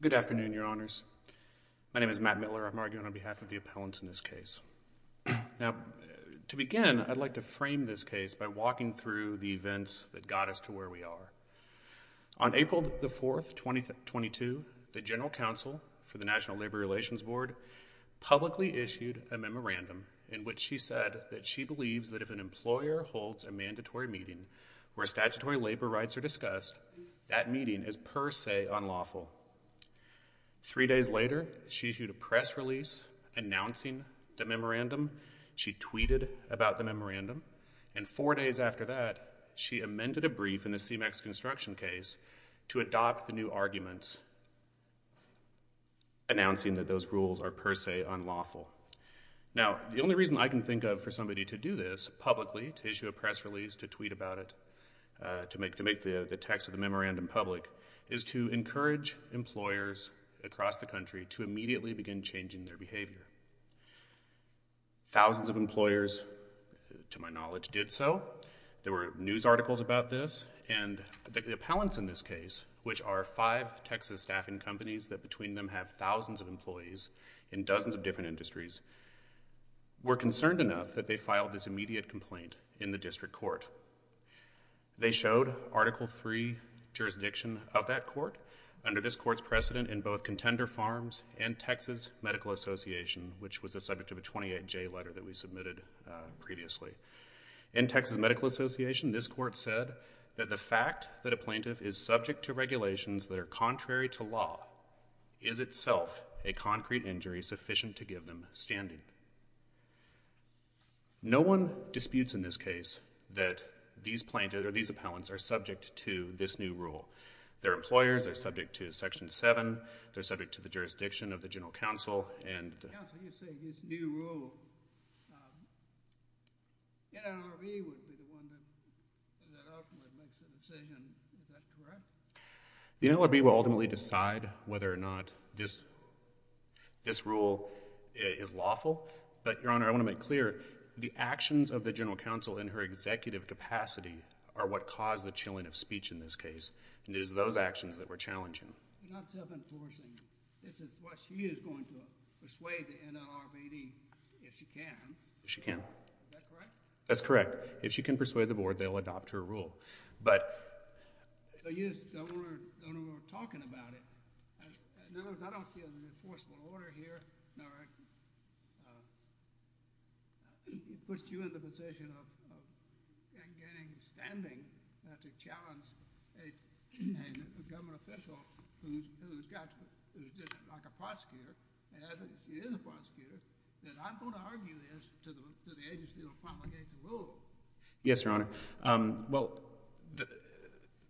Good afternoon, Your Honors. My name is Matt Miller. I'm arguing on behalf of the appellants in this case. Now, to begin, I'd like to frame this case by walking through the events that got us to where we are. On April 4, 2022, the General Counsel for the National Labor Memorandum, in which she said that she believes that if an employer holds a mandatory meeting where statutory labor rights are discussed, that meeting is per se unlawful. Three days later, she issued a press release announcing the memorandum. She tweeted about the memorandum, and four days after that, she amended a brief in the CMEX construction case to adopt the arguments, announcing that those rules are per se unlawful. Now, the only reason I can think of for somebody to do this publicly, to issue a press release, to tweet about it, to make the text of the memorandum public, is to encourage employers across the country to immediately begin changing their behavior. Thousands of employers, to my knowledge, did so. There were news articles about this, and the appellants in this case, which are five Texas staffing companies that between them have thousands of employees in dozens of different industries, were concerned enough that they filed this immediate complaint in the district court. They showed Article III jurisdiction of that court under this court's precedent in both Contender Farms and Texas Medical Association, which was the subject of a 28-J letter that we submitted previously. In Texas Medical Association, this court said that the fact that a plaintiff is subject to regulations that are contrary to law is itself a concrete injury sufficient to give them standing. No one disputes in this case that these plaintiffs, or these appellants, are subject to this new rule. Their employers are subject to Section 7, they're subject to the jurisdiction of the General Counsel, and... The NLRB will ultimately decide whether or not this rule is lawful, but Your Honor, I want to make clear, the actions of the General Counsel in her executive capacity are what caused the chilling of speech in this case, and it is those actions that we're challenging. You're not self-enforcing. It's what she is going to do. Persuade the NLRBD, if she can. If she can. Is that correct? That's correct. If she can persuade the Board, they'll adopt her rule. But... So you just don't want to know we're talking about it. In other words, I don't see an enforceable order here that puts you in the position of getting standing to challenge a government official who's just like a prosecutor, and he is a prosecutor, that I'm going to argue this to the agency that will probably get the rule. Yes, Your Honor. Well,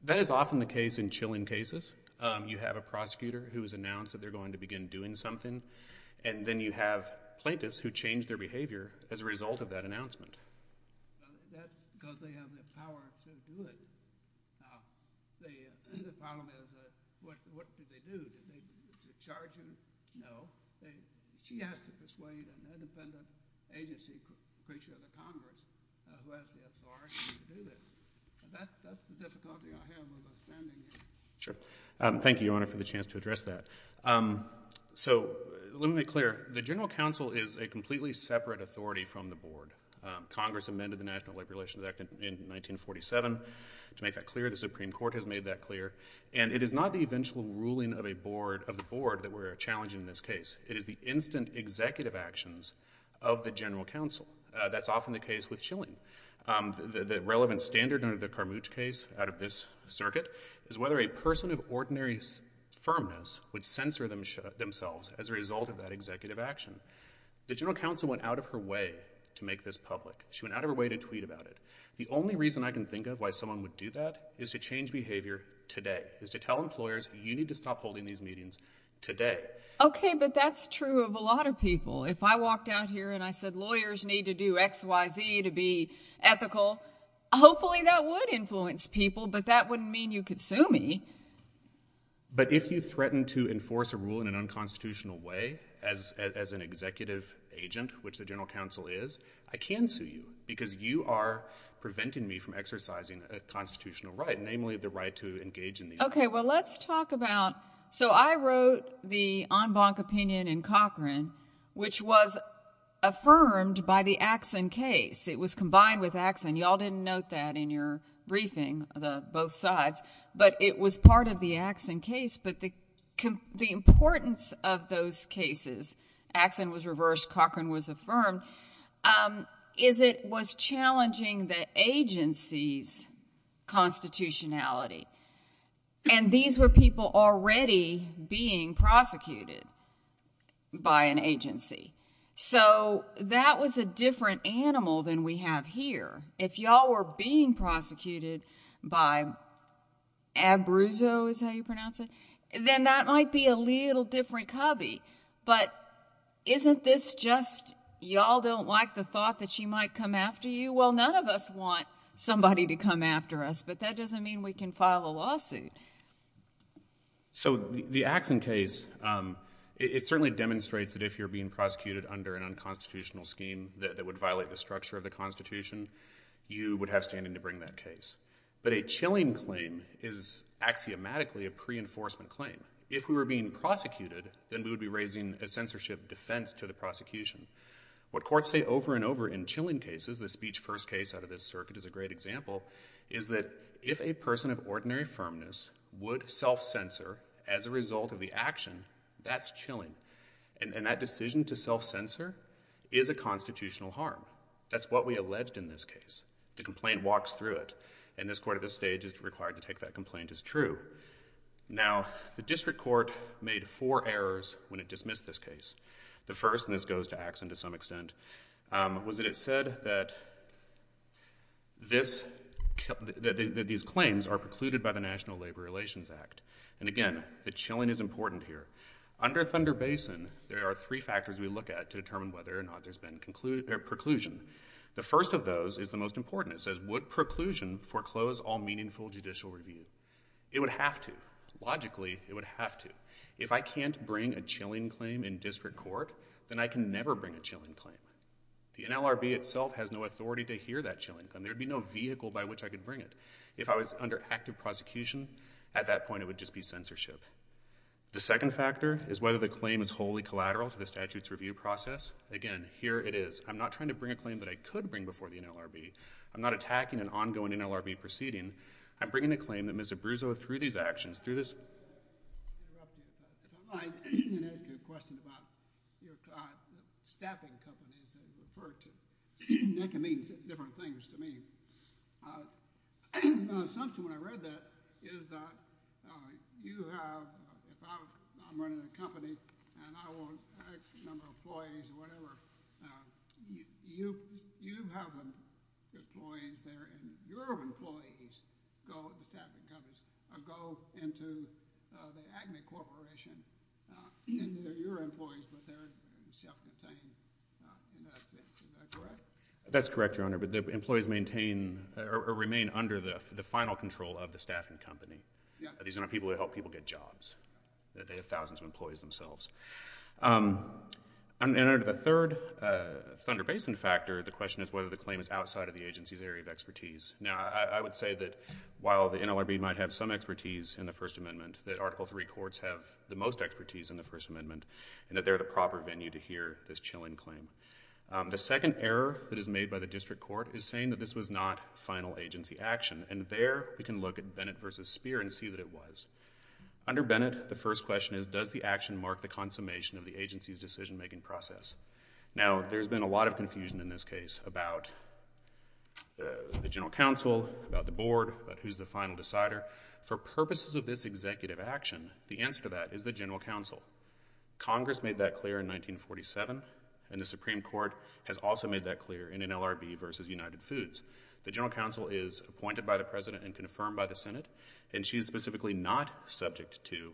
that is often the case in chilling cases. You have a prosecutor who has announced that they're going to begin doing something, and then you have plaintiffs who change their behavior as a result of that announcement. That's because they have the power to do it. Now, the problem is, what do they do? Do they charge him? No. She has to persuade an independent agency creature of the Congress who has the authority to do this. That's the difficulty I have with standing here. Sure. Thank you, Your Honor, for the chance to address that. So let me be clear. The General Counsel is a completely separate authority from the Board. Congress amended the National Labor Relations Act in 1947. To make that clear, the Supreme Court has made that clear. And it is not the eventual ruling of the Board that we're challenging in this case. It is the instant executive actions of the General Counsel. That's often the case with chilling. The relevant standard under the Carmuch case out of this circuit is whether a person of ordinary firmness would censor themselves as a result of that executive action. The General Counsel went out of her way to make this public. She went out of her way to tweet about it. The only reason I can think of why someone would do that is to change behavior today, is to tell employers, you need to stop holding these meetings today. Okay, but that's true of a lot of people. If I walked out here and I said, lawyers need to do X, Y, Z to be ethical, hopefully that would influence people, but that wouldn't mean you could sue me. But if you threaten to enforce a rule in an unconstitutional way, as an executive agent, which the General Counsel is, I can sue you, because you are preventing me from exercising a constitutional right, namely the right to engage in these meetings. Okay, well let's talk about, so I wrote the en banc opinion in Cochran, which was affirmed by the Axon case. It was combined with Axon. Y'all didn't note that in your briefing, both sides, but it was part of the Axon case. But the importance of those cases, Axon was reversed, Cochran was affirmed, is it was challenging the agency's constitutionality. And these were people already being prosecuted by an agency. So that was a different animal than we have here. If y'all were being prosecuted by Abbruzzo, is that how you pronounce it? Then that might be a little different cubby. But isn't this just, y'all don't like the thought that she might come after you? Well, none of us want somebody to come after us, but that doesn't mean we can file a lawsuit. So the Axon case, it certainly demonstrates that if you're being prosecuted under an unconstitutional scheme that would violate the structure of the constitution, you would have standing to bring that case. But a chilling claim is axiomatically a pre-enforcement claim. If we were being prosecuted, then we would be raising a censorship defense to the prosecution. What courts say over and over in chilling cases, the speech first case out of this circuit is a great example, is that if a person of ordinary firmness would self-censor as a result of the action, that's chilling. And that decision to self-censor is a constitutional harm. That's what we alleged in this case. The complaint walks through it. And this court at this stage is required to take that complaint as true. Now, the district court made four errors when it dismissed this case. The first, and this goes to Axon to some extent, was that it said that these claims are precluded by the National Labor Relations Act. And again, the chilling is important here. Under Thunder Basin, there are three factors we look at to determine whether or not there's been preclusion. The first of those is the most important. It says, would preclusion foreclose all meaningful judicial review? It would have to. Logically, it would have to. If I can't bring a chilling claim in district court, then I can never bring a chilling claim. The NLRB itself has no authority to hear that chilling claim. There would be no vehicle by which I could bring it. If I was under active prosecution, at that point it would just be censorship. The second factor is whether the claim is wholly collateral to the statute's review process. Again, here it is. I'm not trying to bring a claim that I could bring before the NLRB. I'm not attacking an ongoing NLRB proceeding. I'm bringing a claim that I could bring before the NLRB. That's correct, Your Honor, but the employees maintain or remain under the final control of the staffing company. These are not people who help people get jobs. They have thousands of employees themselves. Under the third Thunder Basin factor, the question is whether the claim is outside of the agency's area of expertise. Now, I would say that while the NLRB might have some expertise in the First Amendment, that Article III courts have the most expertise in the First Amendment, and that they're the proper venue to hear this chilling claim. The second error that is made by the district court is saying that this was not final agency action, and there we can look at Bennett v. Speer and see that it was. Under Bennett, the first question is, does the action mark the consummation of the agency's decision-making process? Now, there's been a lot of confusion in this case about the general counsel, about the board, about who's the final decider. For purposes of this executive action, the answer to that is the general counsel. Congress made that clear in 1947, and the Supreme Court has also made that clear in NLRB v. United Foods. The general counsel is appointed by the President and confirmed by the Senate, and she is specifically not subject to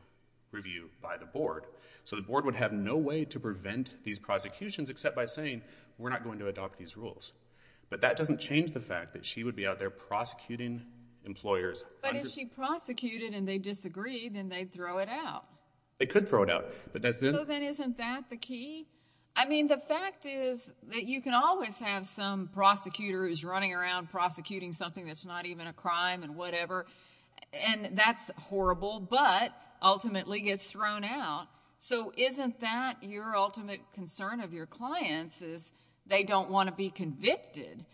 review by the board, so the board would have no way to prevent these prosecutions except by saying, we're not going to adopt these rules. But that doesn't change the fact that she would be out there prosecuting employers. But if she prosecuted and they disagreed, then they'd throw it out. They could throw it out. So then isn't that the key? I mean, the fact is that you can always have some prosecutor who's running around prosecuting something that's not even a crime and whatever, and that's horrible, but ultimately gets thrown out. So isn't that your ultimate concern of your clients is they don't want to be convicted,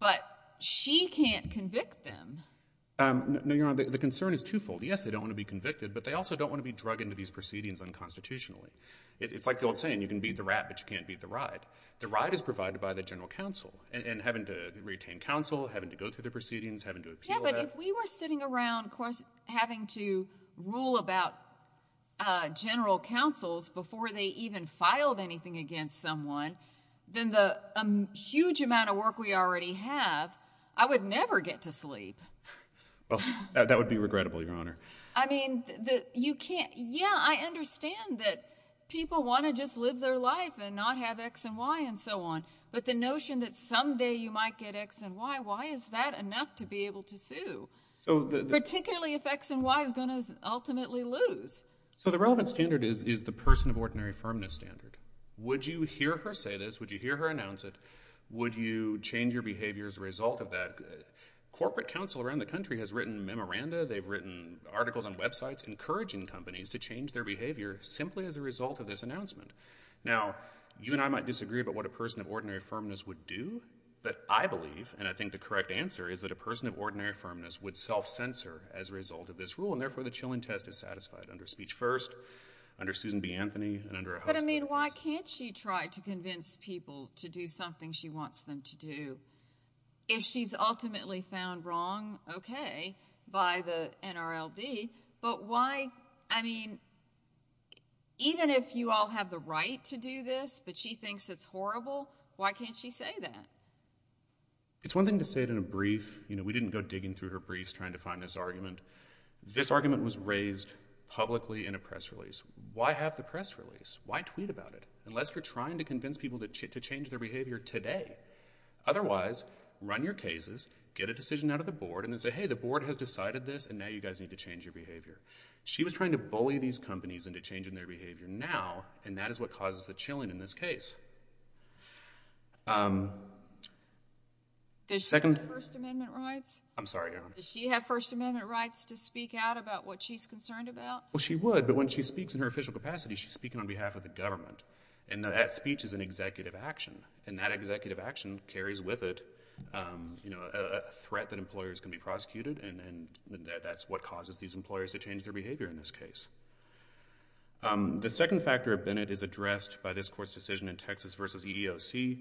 but she can't convict them? No, Your Honor, the concern is twofold. Yes, they don't want to be convicted, but they also don't want to be drug into these proceedings unconstitutionally. It's like the old saying, you can beat the rat, but you can't beat the ride. The ride is provided by the general counsel, and having to retain counsel, having to go through the proceedings, having to appeal that. Yeah, but if we were sitting around having to rule about general counsels before they even filed anything against someone, then the huge amount of work we already have, I would never get to sleep. Well, that would be regrettable, Your Honor. I mean, you can't. Yeah, I understand that people want to just live their life and not have X and Y and so on, but the notion that someday you might get X and Y, why is that enough to be able to sue, particularly if X and Y is going to ultimately lose? So the relevant standard is the person of ordinary firmness standard. Would you hear her say this? Would you hear her announce it? Would you change your behavior as a result of that? Corporate counsel around the country has written memoranda, they've written articles on websites encouraging companies to change their behavior simply as a result of this announcement. Now, you and I might disagree about what a person of ordinary firmness would do, but I believe, and I think the correct answer is that a person of ordinary firmness would self-censor as a result of this rule, and therefore the Chilling Test is satisfied under Speech First, under Susan B. Anthony, and under a House of Representatives. But, I mean, why can't she try to convince people to do something she wants them to do? If she's ultimately found wrong, okay, by the NRLD, but why, I mean, even if you all have the right to do this, but she thinks it's horrible, why can't she say that? It's one thing to say it in a brief, you know, we didn't go digging through her briefs trying to find this argument. This argument was raised publicly in a press release. Why have the press release? Why tweet about it? Unless you're trying to convince people to change their behavior today. Otherwise, run your cases, get a decision out of the board, and then say, hey, the board has decided this, and now you guys need to change your behavior. She was trying to bully these companies into changing their behavior now, and that is what causes the chilling in this case. Does she have First Amendment rights? I'm sorry, Your Honor. Does she have First Amendment rights to speak out about what she's concerned about? Well, she would, but when she speaks in her official capacity, she's speaking on behalf of the government, and that speech is an executive action, and that executive action carries with it, you know, a threat that employers can be prosecuted, and that's what causes these employers to change their behavior in this case. The second factor of Bennett is addressed by this Court's decision in Texas v. EEOC.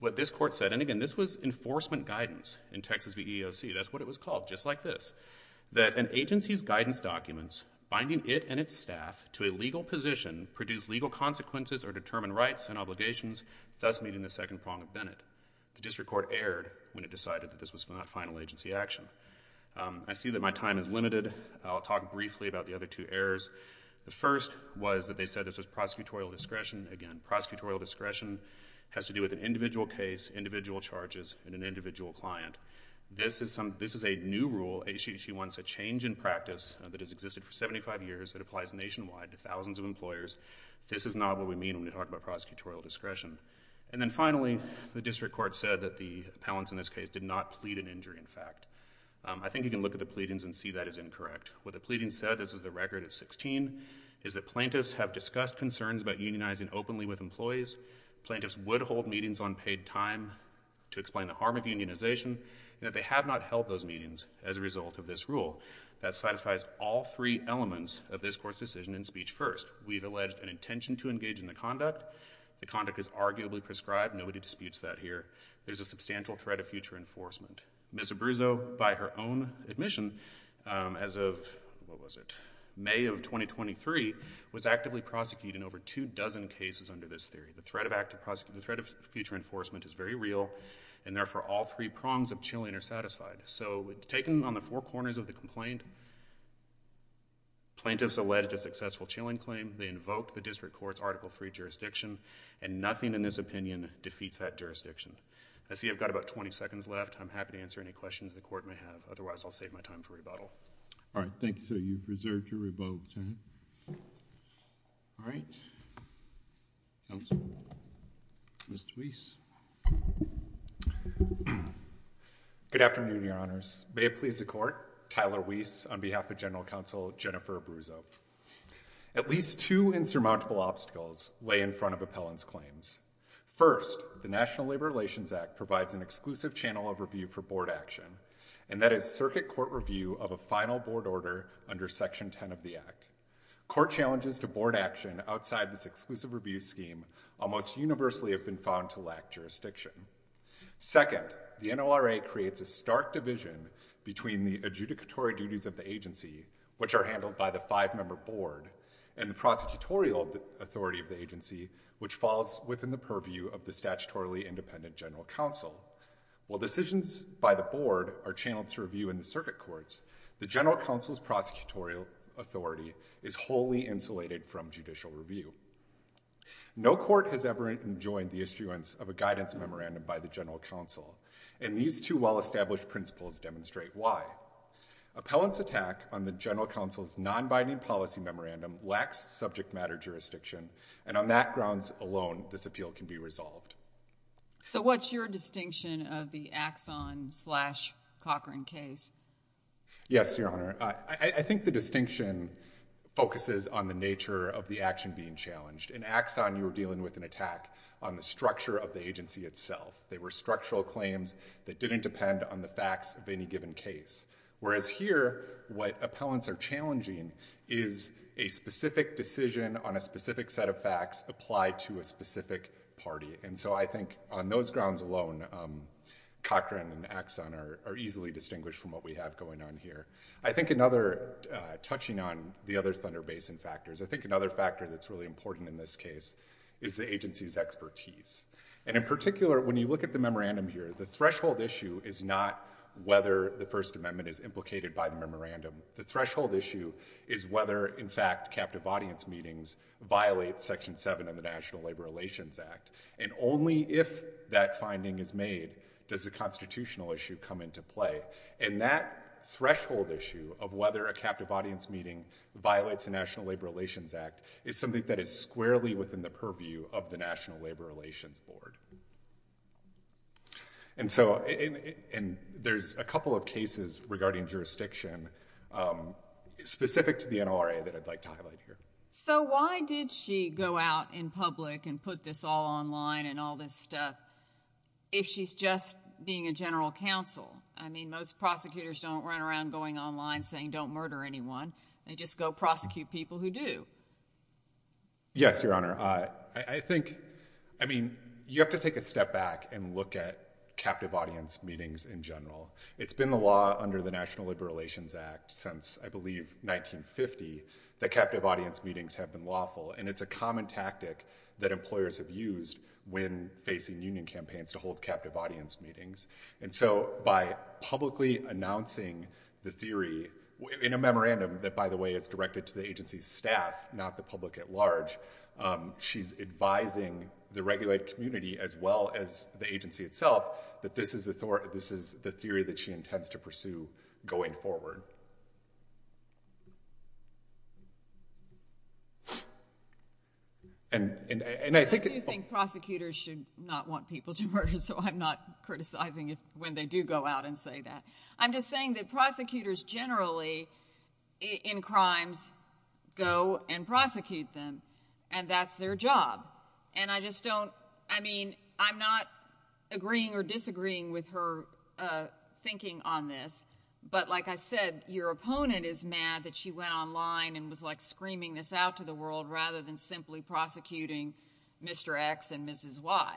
What this Court said, and again, this was enforcement guidance in Texas v. EEOC, that's what it was called, just like this, that an agency's guidance documents binding it and its staff to a legal position produce legal consequences or determine rights and obligations, thus meeting the second prong of Bennett. The district court erred when it decided that this was not final agency action. I see that my time is limited. I'll talk briefly about the other two errors. The first was that they said this was prosecutorial discretion. Again, prosecutorial discretion has to do with an individual case, individual charges, and an individual client. This is a new rule. She wants a change in practice that has existed for 75 years that applies nationwide to thousands of employers. This is not what we mean when we talk about prosecutorial discretion. And then finally, the district court said that the appellants in this case did not plead an injury, in fact. I think you can look at the pleadings and see that as incorrect. What the pleadings said, this is the record at 16, is that plaintiffs have discussed concerns about unionizing openly with employees. Plaintiffs would hold meetings on paid time to explain the harm of unionization, and that they have not held those meetings as a result of this rule. That satisfies all three elements of this Court's decision in speech first. We've alleged an intention to engage in the conduct. The conduct is arguably prescribed. Nobody disputes that here. There's a substantial threat of future enforcement. Ms. Abruzzo, by her own admission, as of May of 2023, was actively prosecuted in over two dozen cases under this theory. The threat of future enforcement is very real, and therefore all three prongs of chilling are satisfied. So taken on the four corners of the complaint, plaintiffs alleged a successful chilling claim. They invoked the district court's Article III jurisdiction, and nothing in this opinion defeats that jurisdiction. I see I've got about 20 seconds left. I'm happy to answer any questions the Court may have. Otherwise, I'll save my time for rebuttal. All right. Thank you, sir. You've reserved your rebuttal time. All right. Counsel. Mr. Wiese. Good afternoon, Your Honors. May it please the Court, Tyler Wiese on behalf of General Counsel Jennifer Abruzzo. At least two insurmountable obstacles lay in front of appellant's claims. First, the National Labor Relations Act provides an exclusive channel of review for board action, and that is circuit court review of a final board order under Section 10 of the Act. Court challenges to board action outside this exclusive review scheme almost universally have been found to lack jurisdiction. Second, the NORA creates a stark division between the adjudicatory duties of the agency, which are handled by the five-member board, and the prosecutorial authority of the agency, which falls within the purview of the statutorily independent General Counsel. While decisions by the board are channeled to review in the circuit courts, the General Counsel's prosecutorial authority is wholly insulated from judicial review. No court has ever enjoined the issuance of a guidance memorandum by the General Counsel, and these two well-established principles demonstrate why. Appellant's attack on the on that grounds alone, this appeal can be resolved. So what's your distinction of the Axon-slash-Cochran case? Yes, Your Honor. I think the distinction focuses on the nature of the action being challenged. In Axon, you were dealing with an attack on the structure of the agency itself. They were structural claims that didn't depend on the facts of any given case. Whereas here, what specific decision on a specific set of facts applied to a specific party. And so I think on those grounds alone, Cochran and Axon are easily distinguished from what we have going on here. I think another, touching on the other Thunder Basin factors, I think another factor that's really important in this case is the agency's expertise. And in particular, when you look at the memorandum here, the threshold issue is not whether the First Amendment is implicated by the memorandum. The threshold issue is whether, in fact, captive audience meetings violate Section 7 of the National Labor Relations Act. And only if that finding is made does the constitutional issue come into play. And that threshold issue of whether a captive audience meeting violates the National Labor Relations Act is something that is squarely within the purview of the National Labor Relations Board. And so there's a couple of cases regarding jurisdiction specific to the NLRA that I'd like to highlight here. So why did she go out in public and put this all online and all this stuff if she's just being a general counsel? I mean, most prosecutors don't run around going online saying don't murder anyone. They just go prosecute people who do. Yes, Your Honor. I think, I mean, you have to take a step back and look at captive audience meetings in general. It's been the law under the National Labor Relations Act since, I believe, 1950 that captive audience meetings have been lawful. And it's a common tactic that employers have used when facing union campaigns to hold captive audience meetings. And so by publicly announcing the theory in a memorandum that, by the way, is directed to the agency's staff, not the public at large, she's advising the regulated community as well as the agency itself that this is the theory that she intends to pursue going forward. I do think prosecutors should not want people to murder, so I'm not criticizing it when they do go out and say that. I'm just saying that prosecutors generally, in crimes, go and prosecute them, and that's their job. And I just don't, I mean, I'm not agreeing or disagreeing with her thinking on this, but like I said, your opponent is mad that she went online and was like screaming this out to the world rather than simply prosecuting Mr. X and Mrs. Y.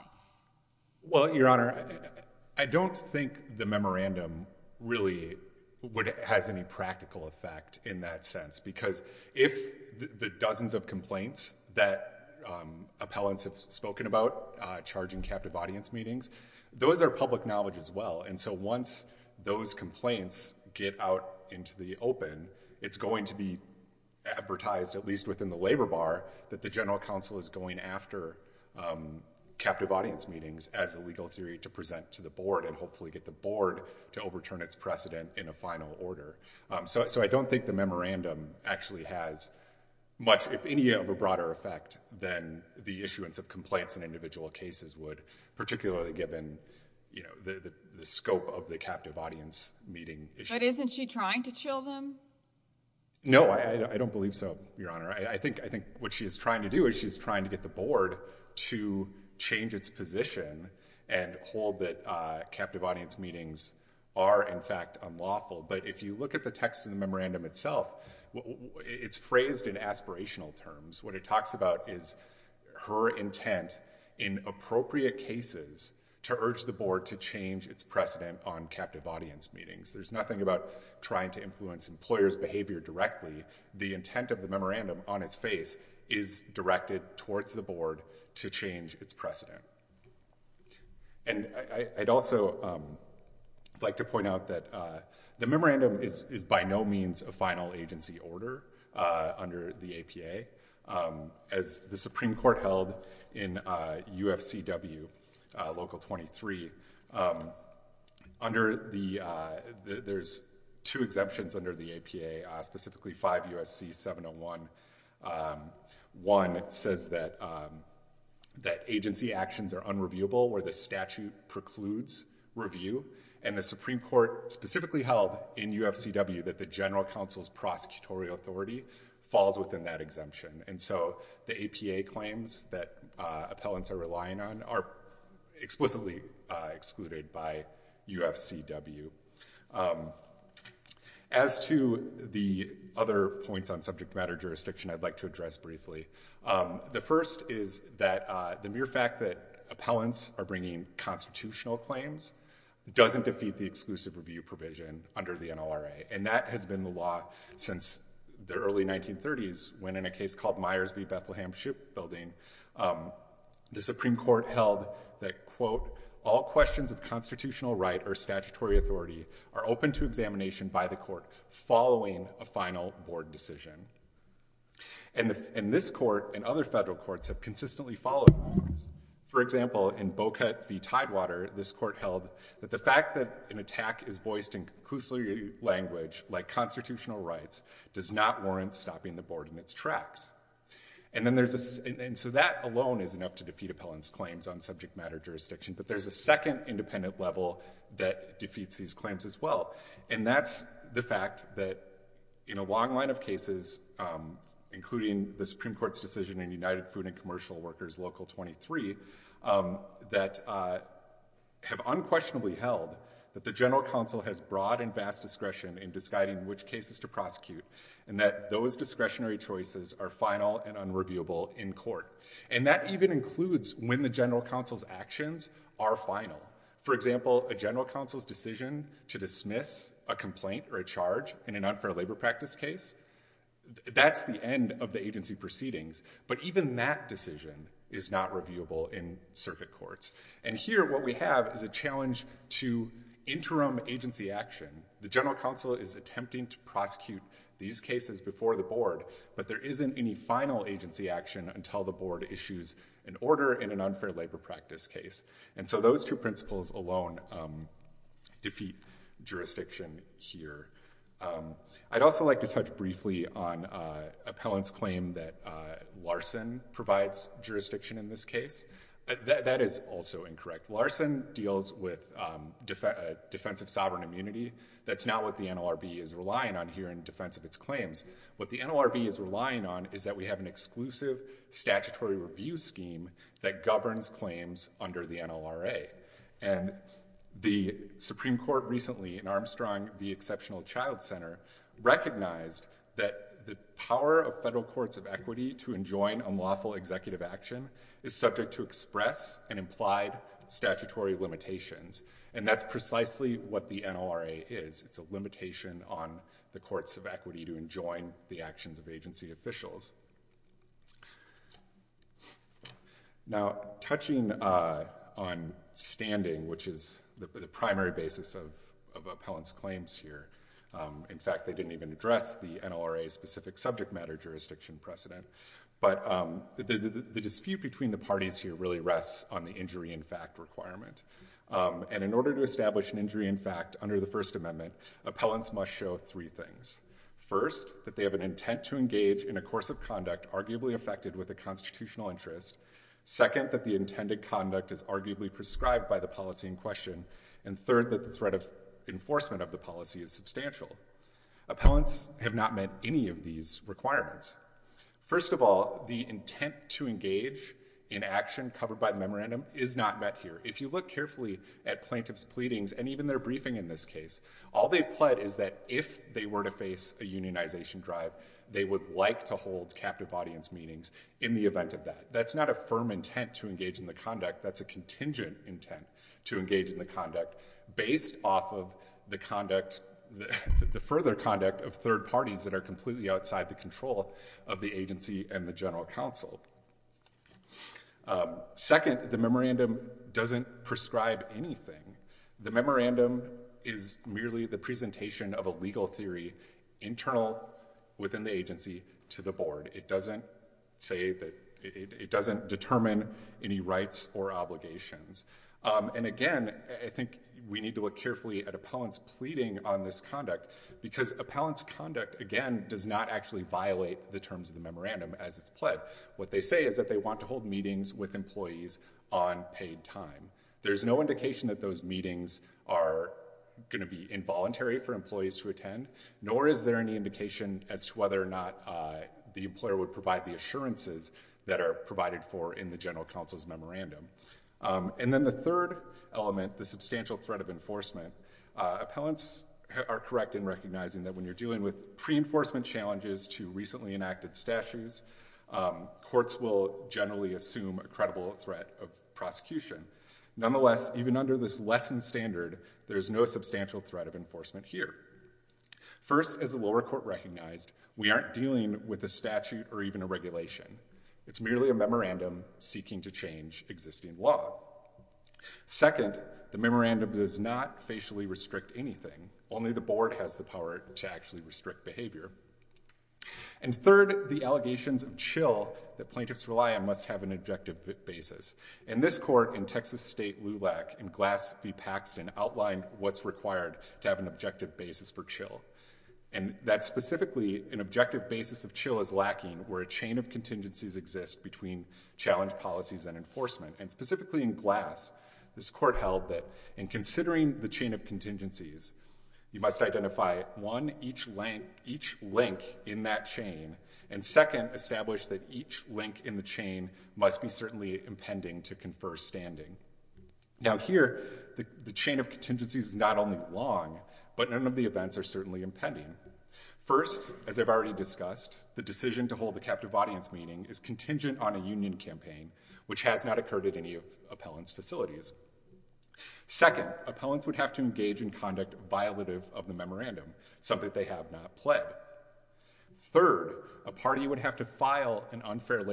Well, Your Honor, I don't think the memorandum really has any practical effect in that sense, because if the dozens of complaints that appellants have spoken about charging captive audience meetings, those are public knowledge as well. And so once those complaints get out into the open, it's going to be advertised, at least within the labor bar, that the general counsel is going after captive audience meetings as a legal theory to present to the board and hopefully get the board to overturn its precedent in a final order. So I don't think the memorandum actually has much, if any, of a broader effect than the issuance of complaints in individual cases would, particularly given the scope of the captive audience meeting issue. But isn't she trying to chill them? No, I don't believe so, Your Honor. I think what she is trying to do is she is trying to get the board to change its position and hold that captive audience meetings are in fact unlawful. But if you look at the text in the memorandum itself, it's phrased in aspirational terms. What it talks about is her intent in appropriate cases to urge the board to change its precedent on captive audience meetings. There's nothing about trying to change the employer's behavior directly. The intent of the memorandum on its face is directed towards the board to change its precedent. And I'd also like to point out that the memorandum is by no means a final agency order under the APA. As the Supreme Court held in UFCW Local 23, there's two exemptions under the APA, specifically 5 U.S.C. 701. One says that agency actions are unreviewable where the statute precludes review. And the Supreme Court specifically held in UFCW that the general counsel's prosecutorial authority falls within that exemption. And so the APA claims that appellants are relying on are explicitly excluded by UFCW. As to the other points on subject matter jurisdiction, I'd like to address briefly. The first is that the mere fact that appellants are bringing constitutional claims doesn't defeat the exclusive review provision under the NLRA. And that has been the law since the early 1930s, when in a case called Myers v. Bethlehem Shipbuilding, the Supreme Court and the NLRA are open to examination by the court following a final board decision. And this court and other federal courts have consistently followed those. For example, in Boca v. Tidewater, this court held that the fact that an attack is voiced in conclusive language, like constitutional rights, does not warrant stopping the board in its tracks. And so that alone isn't up to defeat appellants' claims on subject matter jurisdiction. But there's a second independent level that defeats these claims as well. And that's the fact that in a long line of cases, including the Supreme Court's decision in United Food and Commercial Workers Local 23, that have unquestionably held that the general counsel has broad and vast discretion in disguiding which cases to prosecute, and that those discretionary choices are final and unreviewable in court. And that even includes when the general counsel's actions are final. For example, a general counsel's decision to dismiss a complaint or a charge in an unfair labor practice case, that's the end of the agency proceedings. But even that decision is not reviewable in circuit courts. And here what we have is a challenge to interim agency action. The general counsel is attempting to prosecute these cases before the board, but there isn't any final agency action until the board issues an order in an unfair labor practice case. And so those two principles alone defeat jurisdiction here. I'd also like to touch briefly on appellants' claim that Larson provides jurisdiction in this case. That is also incorrect. Larson deals with defense of sovereign immunity. That's not what the NLRB is relying on here in defense of its claims. What the NLRB is relying on is that we have an exclusive statutory review scheme that governs claims under the NLRA. And the Supreme Court recently, in Armstrong v. Exceptional Child Center, recognized that the power of federal courts of equity to enjoin unlawful executive action is subject to express and implied statutory limitations. And that's precisely what the NLRA is. It's a limitation on the courts of equity to enjoin the actions of agency officials. Now, touching on standing, which is the primary basis of appellants' claims here. In fact, they didn't even address the NLRA-specific subject matter jurisdiction precedent. But the dispute between the parties here really rests on the injury in fact requirement. And in order to establish an injury in fact under the First Amendment, appellants must show three things. First, that they have an intent to engage in a course of conduct arguably affected with a constitutional interest. Second, that the intended conduct is arguably prescribed by the policy in question. And third, that the threat of enforcement of the policy is Appellants have not met any of these requirements. First of all, the intent to engage in action covered by the memorandum is not met here. If you look carefully at plaintiffs' pleadings and even their briefing in this case, all they've pled is that if they were to face a unionization drive, they would like to hold captive audience meetings in the event of that. That's not a firm intent to engage in the conduct. That's a contingent intent to engage in the conduct based off of the conduct, the further conduct of third parties that are completely outside the control of the agency and the general counsel. Second, the memorandum doesn't prescribe anything. The memorandum is merely the presentation of a legal theory internal within the agency to the board. It doesn't say that, it doesn't determine any rights or obligations. And again, I think we need to look carefully at Appellants' pleading on this conduct because Appellants' conduct, again, does not actually violate the terms of the memorandum as it's pled. What they say is that they want to hold meetings with employees on paid time. There's no indication that those meetings are going to be involuntary for employees to attend, nor is there any indication as to whether or not the employer would provide the assurances that are provided for in the general counsel's memorandum. And then the third element, the substantial threat of enforcement. Appellants are correct in recognizing that when you're dealing with pre-enforcement challenges to recently enacted statutes, courts will generally assume a credible threat of prosecution. Nonetheless, even under this lessened standard, there's no substantial threat of enforcement here. First, as the lower court recognized, we aren't dealing with a statute or even a regulation. It's merely a memorandum seeking to change existing law. Second, the memorandum does not facially restrict anything. Only the board has the power to actually restrict behavior. And third, the allegations of chill that plaintiffs rely on must have an objective basis. And this court in Texas State LULAC in Glass v. Paxton outlined what's required to have an objective basis for chill. And that specifically, an objective basis of chill is lacking where a chain of contingencies exist between challenge policies and enforcement. And specifically in Glass, this court held that in considering the chain of contingencies, you must identify, one, each link in that chain, and second, establish that each link in the chain must be certainly impending to confer standing. Now, here, the chain of contingencies is not only long, but none of the events are certainly impending. First, as I've already discussed, the decision to hold the captive audience meeting is contingent on a union campaign, which has not occurred at any of appellants' facilities. Second, appellants would have to engage in conduct violative of the memorandum, something they have not pled. Third, a party would have to file an objective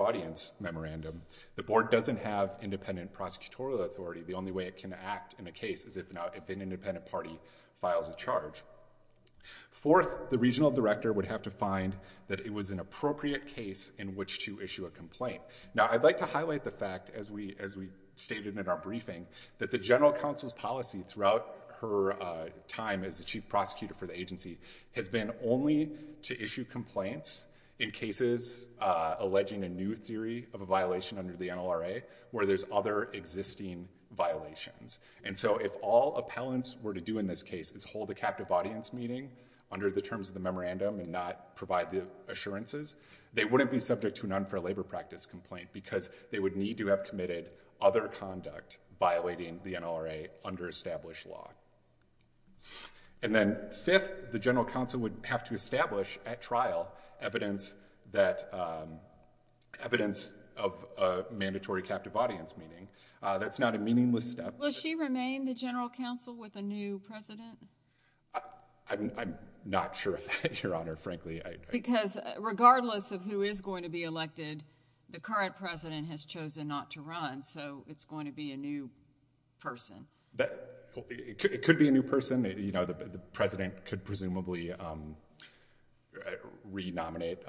audience memorandum. The board doesn't have independent prosecutorial authority. The only way it can act in a case is if an independent party files a charge. Fourth, the regional director would have to find that it was an appropriate case in which to issue a complaint. Now, I'd like to highlight the fact, as we stated in our briefing, that the general counsel's policy throughout her time as the chief prosecutor for the agency has been only to issue complaints in cases alleging a new theory of a violation under the NLRA where there's other existing violations. And so if all appellants were to do in this case is hold a captive audience meeting under the terms of the memorandum and not provide the assurances, they wouldn't be subject to an unfair labor practice complaint because they would need to have committed other conduct violating the NLRA under established law. And then fifth, the general counsel would have to establish at trial evidence of a mandatory captive audience meeting. That's not a meaningless step. Will she remain the general counsel with a new president? I'm not sure of that, Your Honor, frankly. Because regardless of who is going to be elected, the current president has chosen not to run, so it's going to be a new person. It could be a new person. The president could presumably re-nominate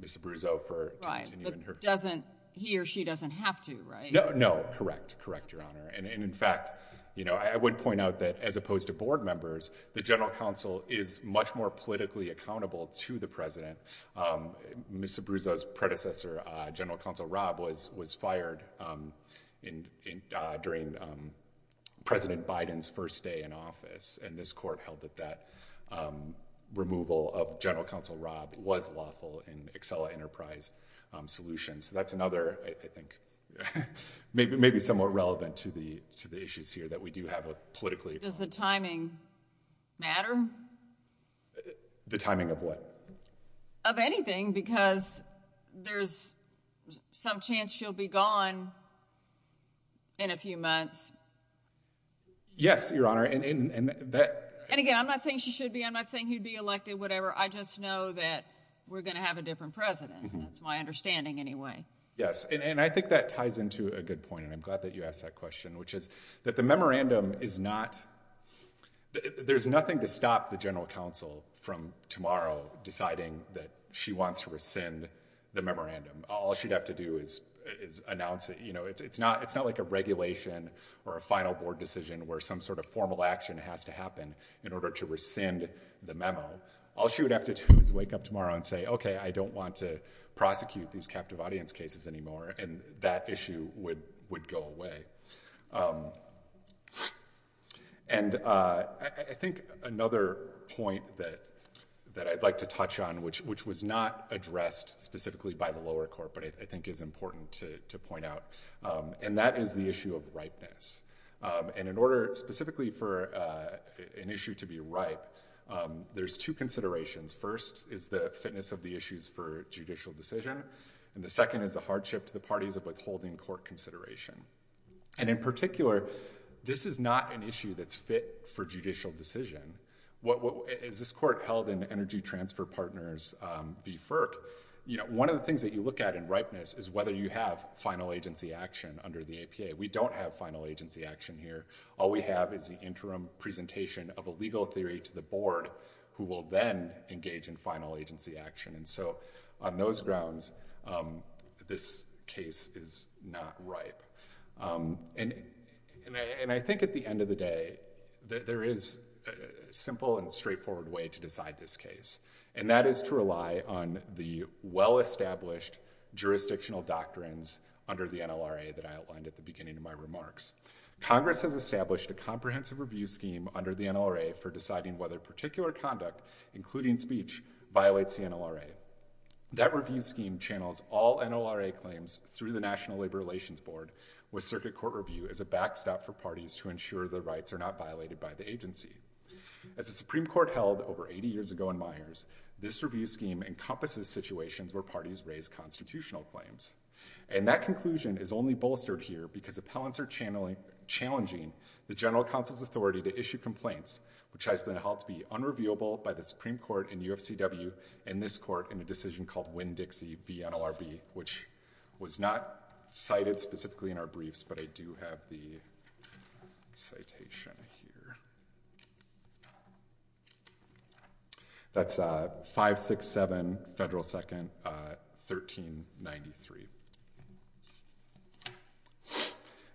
Mr. Brousseau. Right, but he or she doesn't have to, right? No, correct, correct, Your Honor. And in fact, I would point out that as opposed to board members, the general counsel is much more politically accountable to the president. Mr. Brousseau's predecessor, General Counsel Robb, was fired during President Biden's first day in office, and this court held that that removal of General Counsel Robb was lawful in Accela Enterprise Solutions. That's another, I think, maybe somewhat relevant to the issues here that we do have a politically... Does the timing matter? The timing of what? Of anything, because there's some chance she'll be gone in a few months. Yes, Your Honor, and that... And again, I'm not saying she should be. I'm not saying he'd be elected, whatever. I just know that we're going to have a different president. That's my understanding anyway. Yes, and I think that ties into a good point, and I'm glad that you asked that question, which is that the memorandum is not... There's nothing to stop the general counsel from tomorrow deciding that she wants to rescind the memorandum. All she'd have to do is announce it. It's not like a regulation or a final board decision where some sort of formal action has to happen in order to rescind the memo. All she would have to do is wake up tomorrow and say, Okay, I don't want to prosecute these captive audience cases anymore, and that issue would go away. And I think another point that I'd like to touch on, which was not addressed specifically by the lower court, but I think is important to point out, and that is the issue of ripeness. And in order specifically for an issue to be ripe, there's two considerations. First is the fitness of the issues for judicial decision, and the second is the hardship to the parties of withholding court consideration. And in particular, this is not an issue that's fit for judicial decision. As this court held in Energy Transfer Partners v. FERC, one of the things that you look at in ripeness is whether you have final agency action under the APA. We don't have final agency action here. All we have is the interim presentation of a legal theory to the board who will then engage in final agency action. And so on those grounds, this case is not ripe. And I think at the end of the day, there is a simple and straightforward way to decide this case, and that is to rely on the well-established jurisdictional doctrines under the NLRA that I outlined at the beginning of my remarks. Congress has established a comprehensive review scheme under the NLRA for deciding whether particular conduct, including speech, violates the NLRA. That review scheme channels all NLRA claims through the National Labor Relations Board with circuit court review as a backstop for parties to ensure their rights are not violated by the agency. As the Supreme Court held over 80 years ago in Myers, this review scheme encompasses situations where parties raise constitutional claims. And that conclusion is only bolstered here because appellants are challenging the general counsel's authority to issue complaints, which has been held to be unreviewable by the Supreme Court in UFCW and this court in a decision called Winn-Dixie v. NLRB, which was not cited specifically in our briefs, but I do have the citation here. That's 567 Federal 2nd, 1393.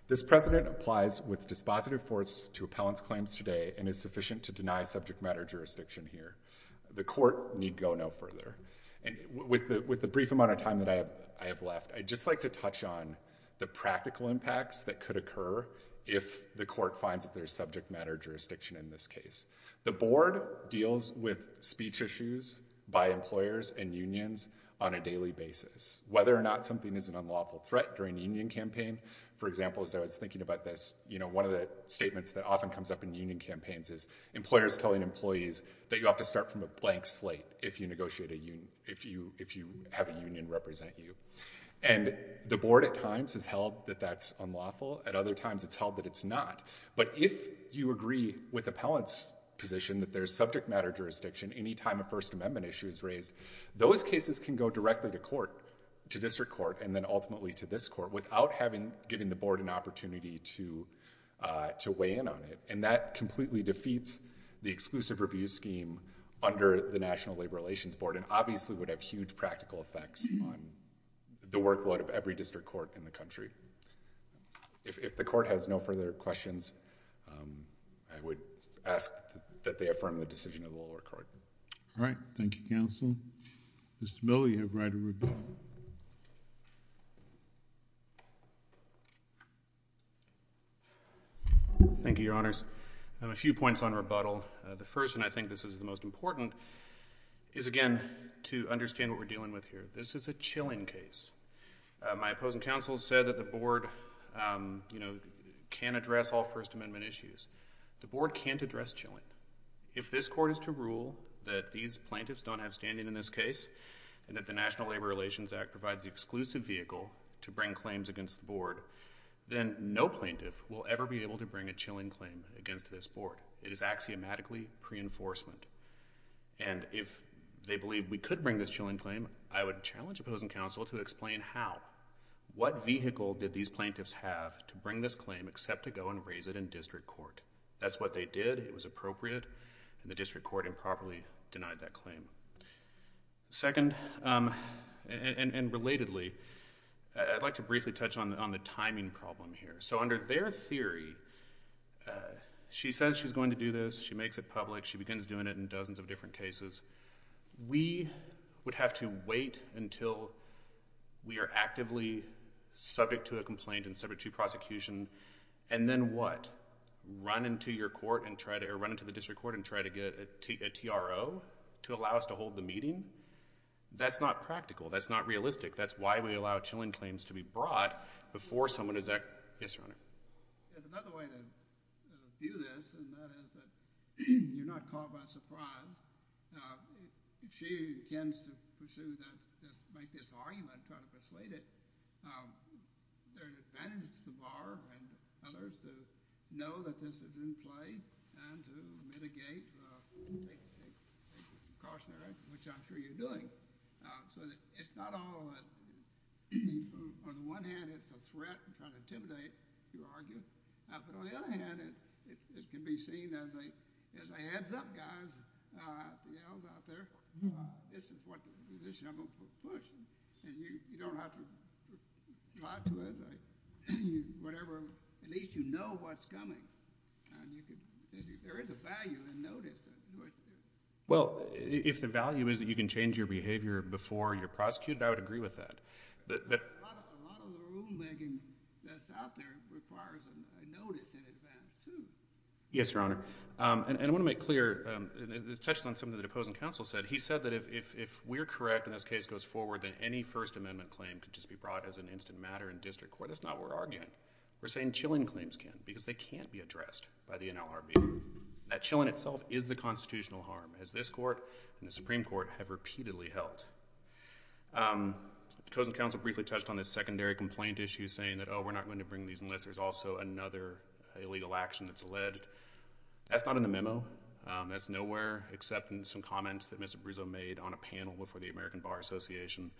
This precedent applies with dispositive force to appellants' claims today and is sufficient to deny subject matter jurisdiction here. The court need go no further. And with the brief amount of time that I have left, I'd just like to touch on the practical impacts that could occur if the court finds that there's subject matter jurisdiction in this case. The board deals with speech issues by employers and unions on a daily basis. Whether or not something is an unlawful threat during a union campaign, for example, as I was thinking about this, one of the statements that often comes up in union campaigns is employers telling employees that you have to start from a blank slate if you have a union represent you. And the board at times has held that that's unlawful. At other times, it's held that it's not. But if you agree with appellant's position that there's subject matter jurisdiction any time a First Amendment issue is raised, those cases can go directly to court, to district court, and then ultimately to this court, without giving the board an opportunity to weigh in on it. And that completely defeats the exclusive review scheme under the National Labor Relations Board and obviously would have huge practical effects on the workload of every district court in the country. If the court has no further questions, I would ask that they affirm the decision of the lower court. All right. Thank you, counsel. Mr. Miller, you have the right of rebuttal. Thank you, Your Honors. I have a few points on rebuttal. The first, and I think this is the most important, is, again, to understand what we're dealing with here. This is a chilling case. My opposing counsel said that the board, you know, can't address all First Amendment issues. The board can't address chilling. If this court is to rule that these plaintiffs don't have standing in this case and that the National Labor Relations Act provides the exclusive vehicle to bring claims against the board, then no plaintiff will ever be able to bring a chilling claim against this board. It is axiomatically pre-enforcement. And if they believe we could bring this chilling claim, I would challenge opposing counsel to explain how. What vehicle did these plaintiffs have to bring this claim except to go and raise it in district court? That's what they did. It was appropriate. And the district court improperly denied that claim. Second, and relatedly, I'd like to briefly touch on the timing problem here. So under their theory, she says she's going to do this. She makes it public. She begins doing it in dozens of different cases. We would have to wait until we are actively subject to a complaint and subject to prosecution. And then what? Run into the district court and try to get a TRO to allow us to hold the meeting? That's not practical. That's not realistic. That's why we allow chilling claims to be brought before someone is actually... Yes, Your Honor. There's another way to view this, and that is that you're not caught by surprise. She intends to pursue that, make this argument, try to persuade it. There are advantages to Barr and others to know that this is in play and to mitigate cautionary action, which I'm sure you're doing. So it's not all... On the one hand, it's a threat and kind of intimidating to argue. But on the other hand, it can be seen as a heads-up, guys, out there. This is the position I'm going to push. And you don't have to lie to it. At least you know what's coming. There is a value in notice. Well, if the value is that you can change your behavior before you're prosecuted, I would agree with that. But a lot of the rulemaking that's out there requires a notice in advance, too. Yes, Your Honor. And I want to make clear... It touches on something the opposing counsel said. He said that if we're correct and this case goes forward, then any First Amendment claim could just be brought as an instant matter in district court. That's not what we're arguing. We're saying Chilling claims can, because they can't be addressed by the NLRB. That Chilling itself is the constitutional harm, as this Court and the Supreme Court have repeatedly held. Opposing counsel briefly touched on this secondary complaint issue, saying that, oh, we're not going to bring these unless there's also another illegal action that's alleged. That's not in the memo. That's nowhere except in some comments that Mr. Brizzo made on a panel before the American Bar Association.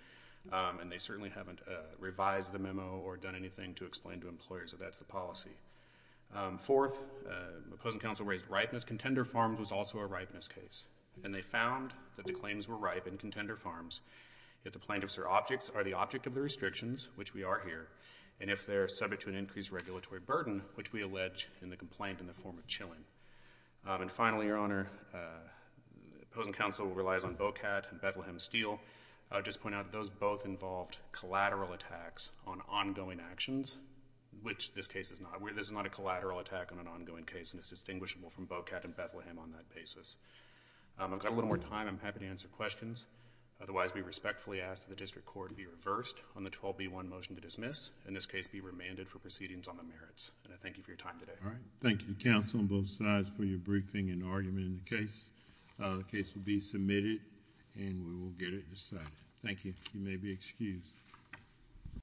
And they certainly haven't revised the memo or done anything to explain to employers that that's the policy. Fourth, the opposing counsel raised ripeness. Contender Farms was also a ripeness case. And they found that the claims were ripe in Contender Farms if the plaintiffs or objects are the object of the restrictions, which we are here, and if they're subject to an increased regulatory burden, which we allege in the complaint in the form of Chilling. And finally, Your Honor, opposing counsel relies on Bocat and Bethlehem Steel. I'll just point out those both involved collateral attacks on ongoing actions, which this case is not. This is not a collateral attack on an ongoing case, and it's distinguishable from Bocat and Bethlehem on that basis. I've got a little more time. I'm happy to answer questions. Otherwise, we respectfully ask that the district court be reversed on the 12B1 motion to dismiss, and this case be remanded for proceedings on the merits. And I thank you for your time today. All right. Thank you, counsel, on both sides, for your briefing and argument in the case. The case will be submitted, and we will get it decided. Thank you. You may be excused.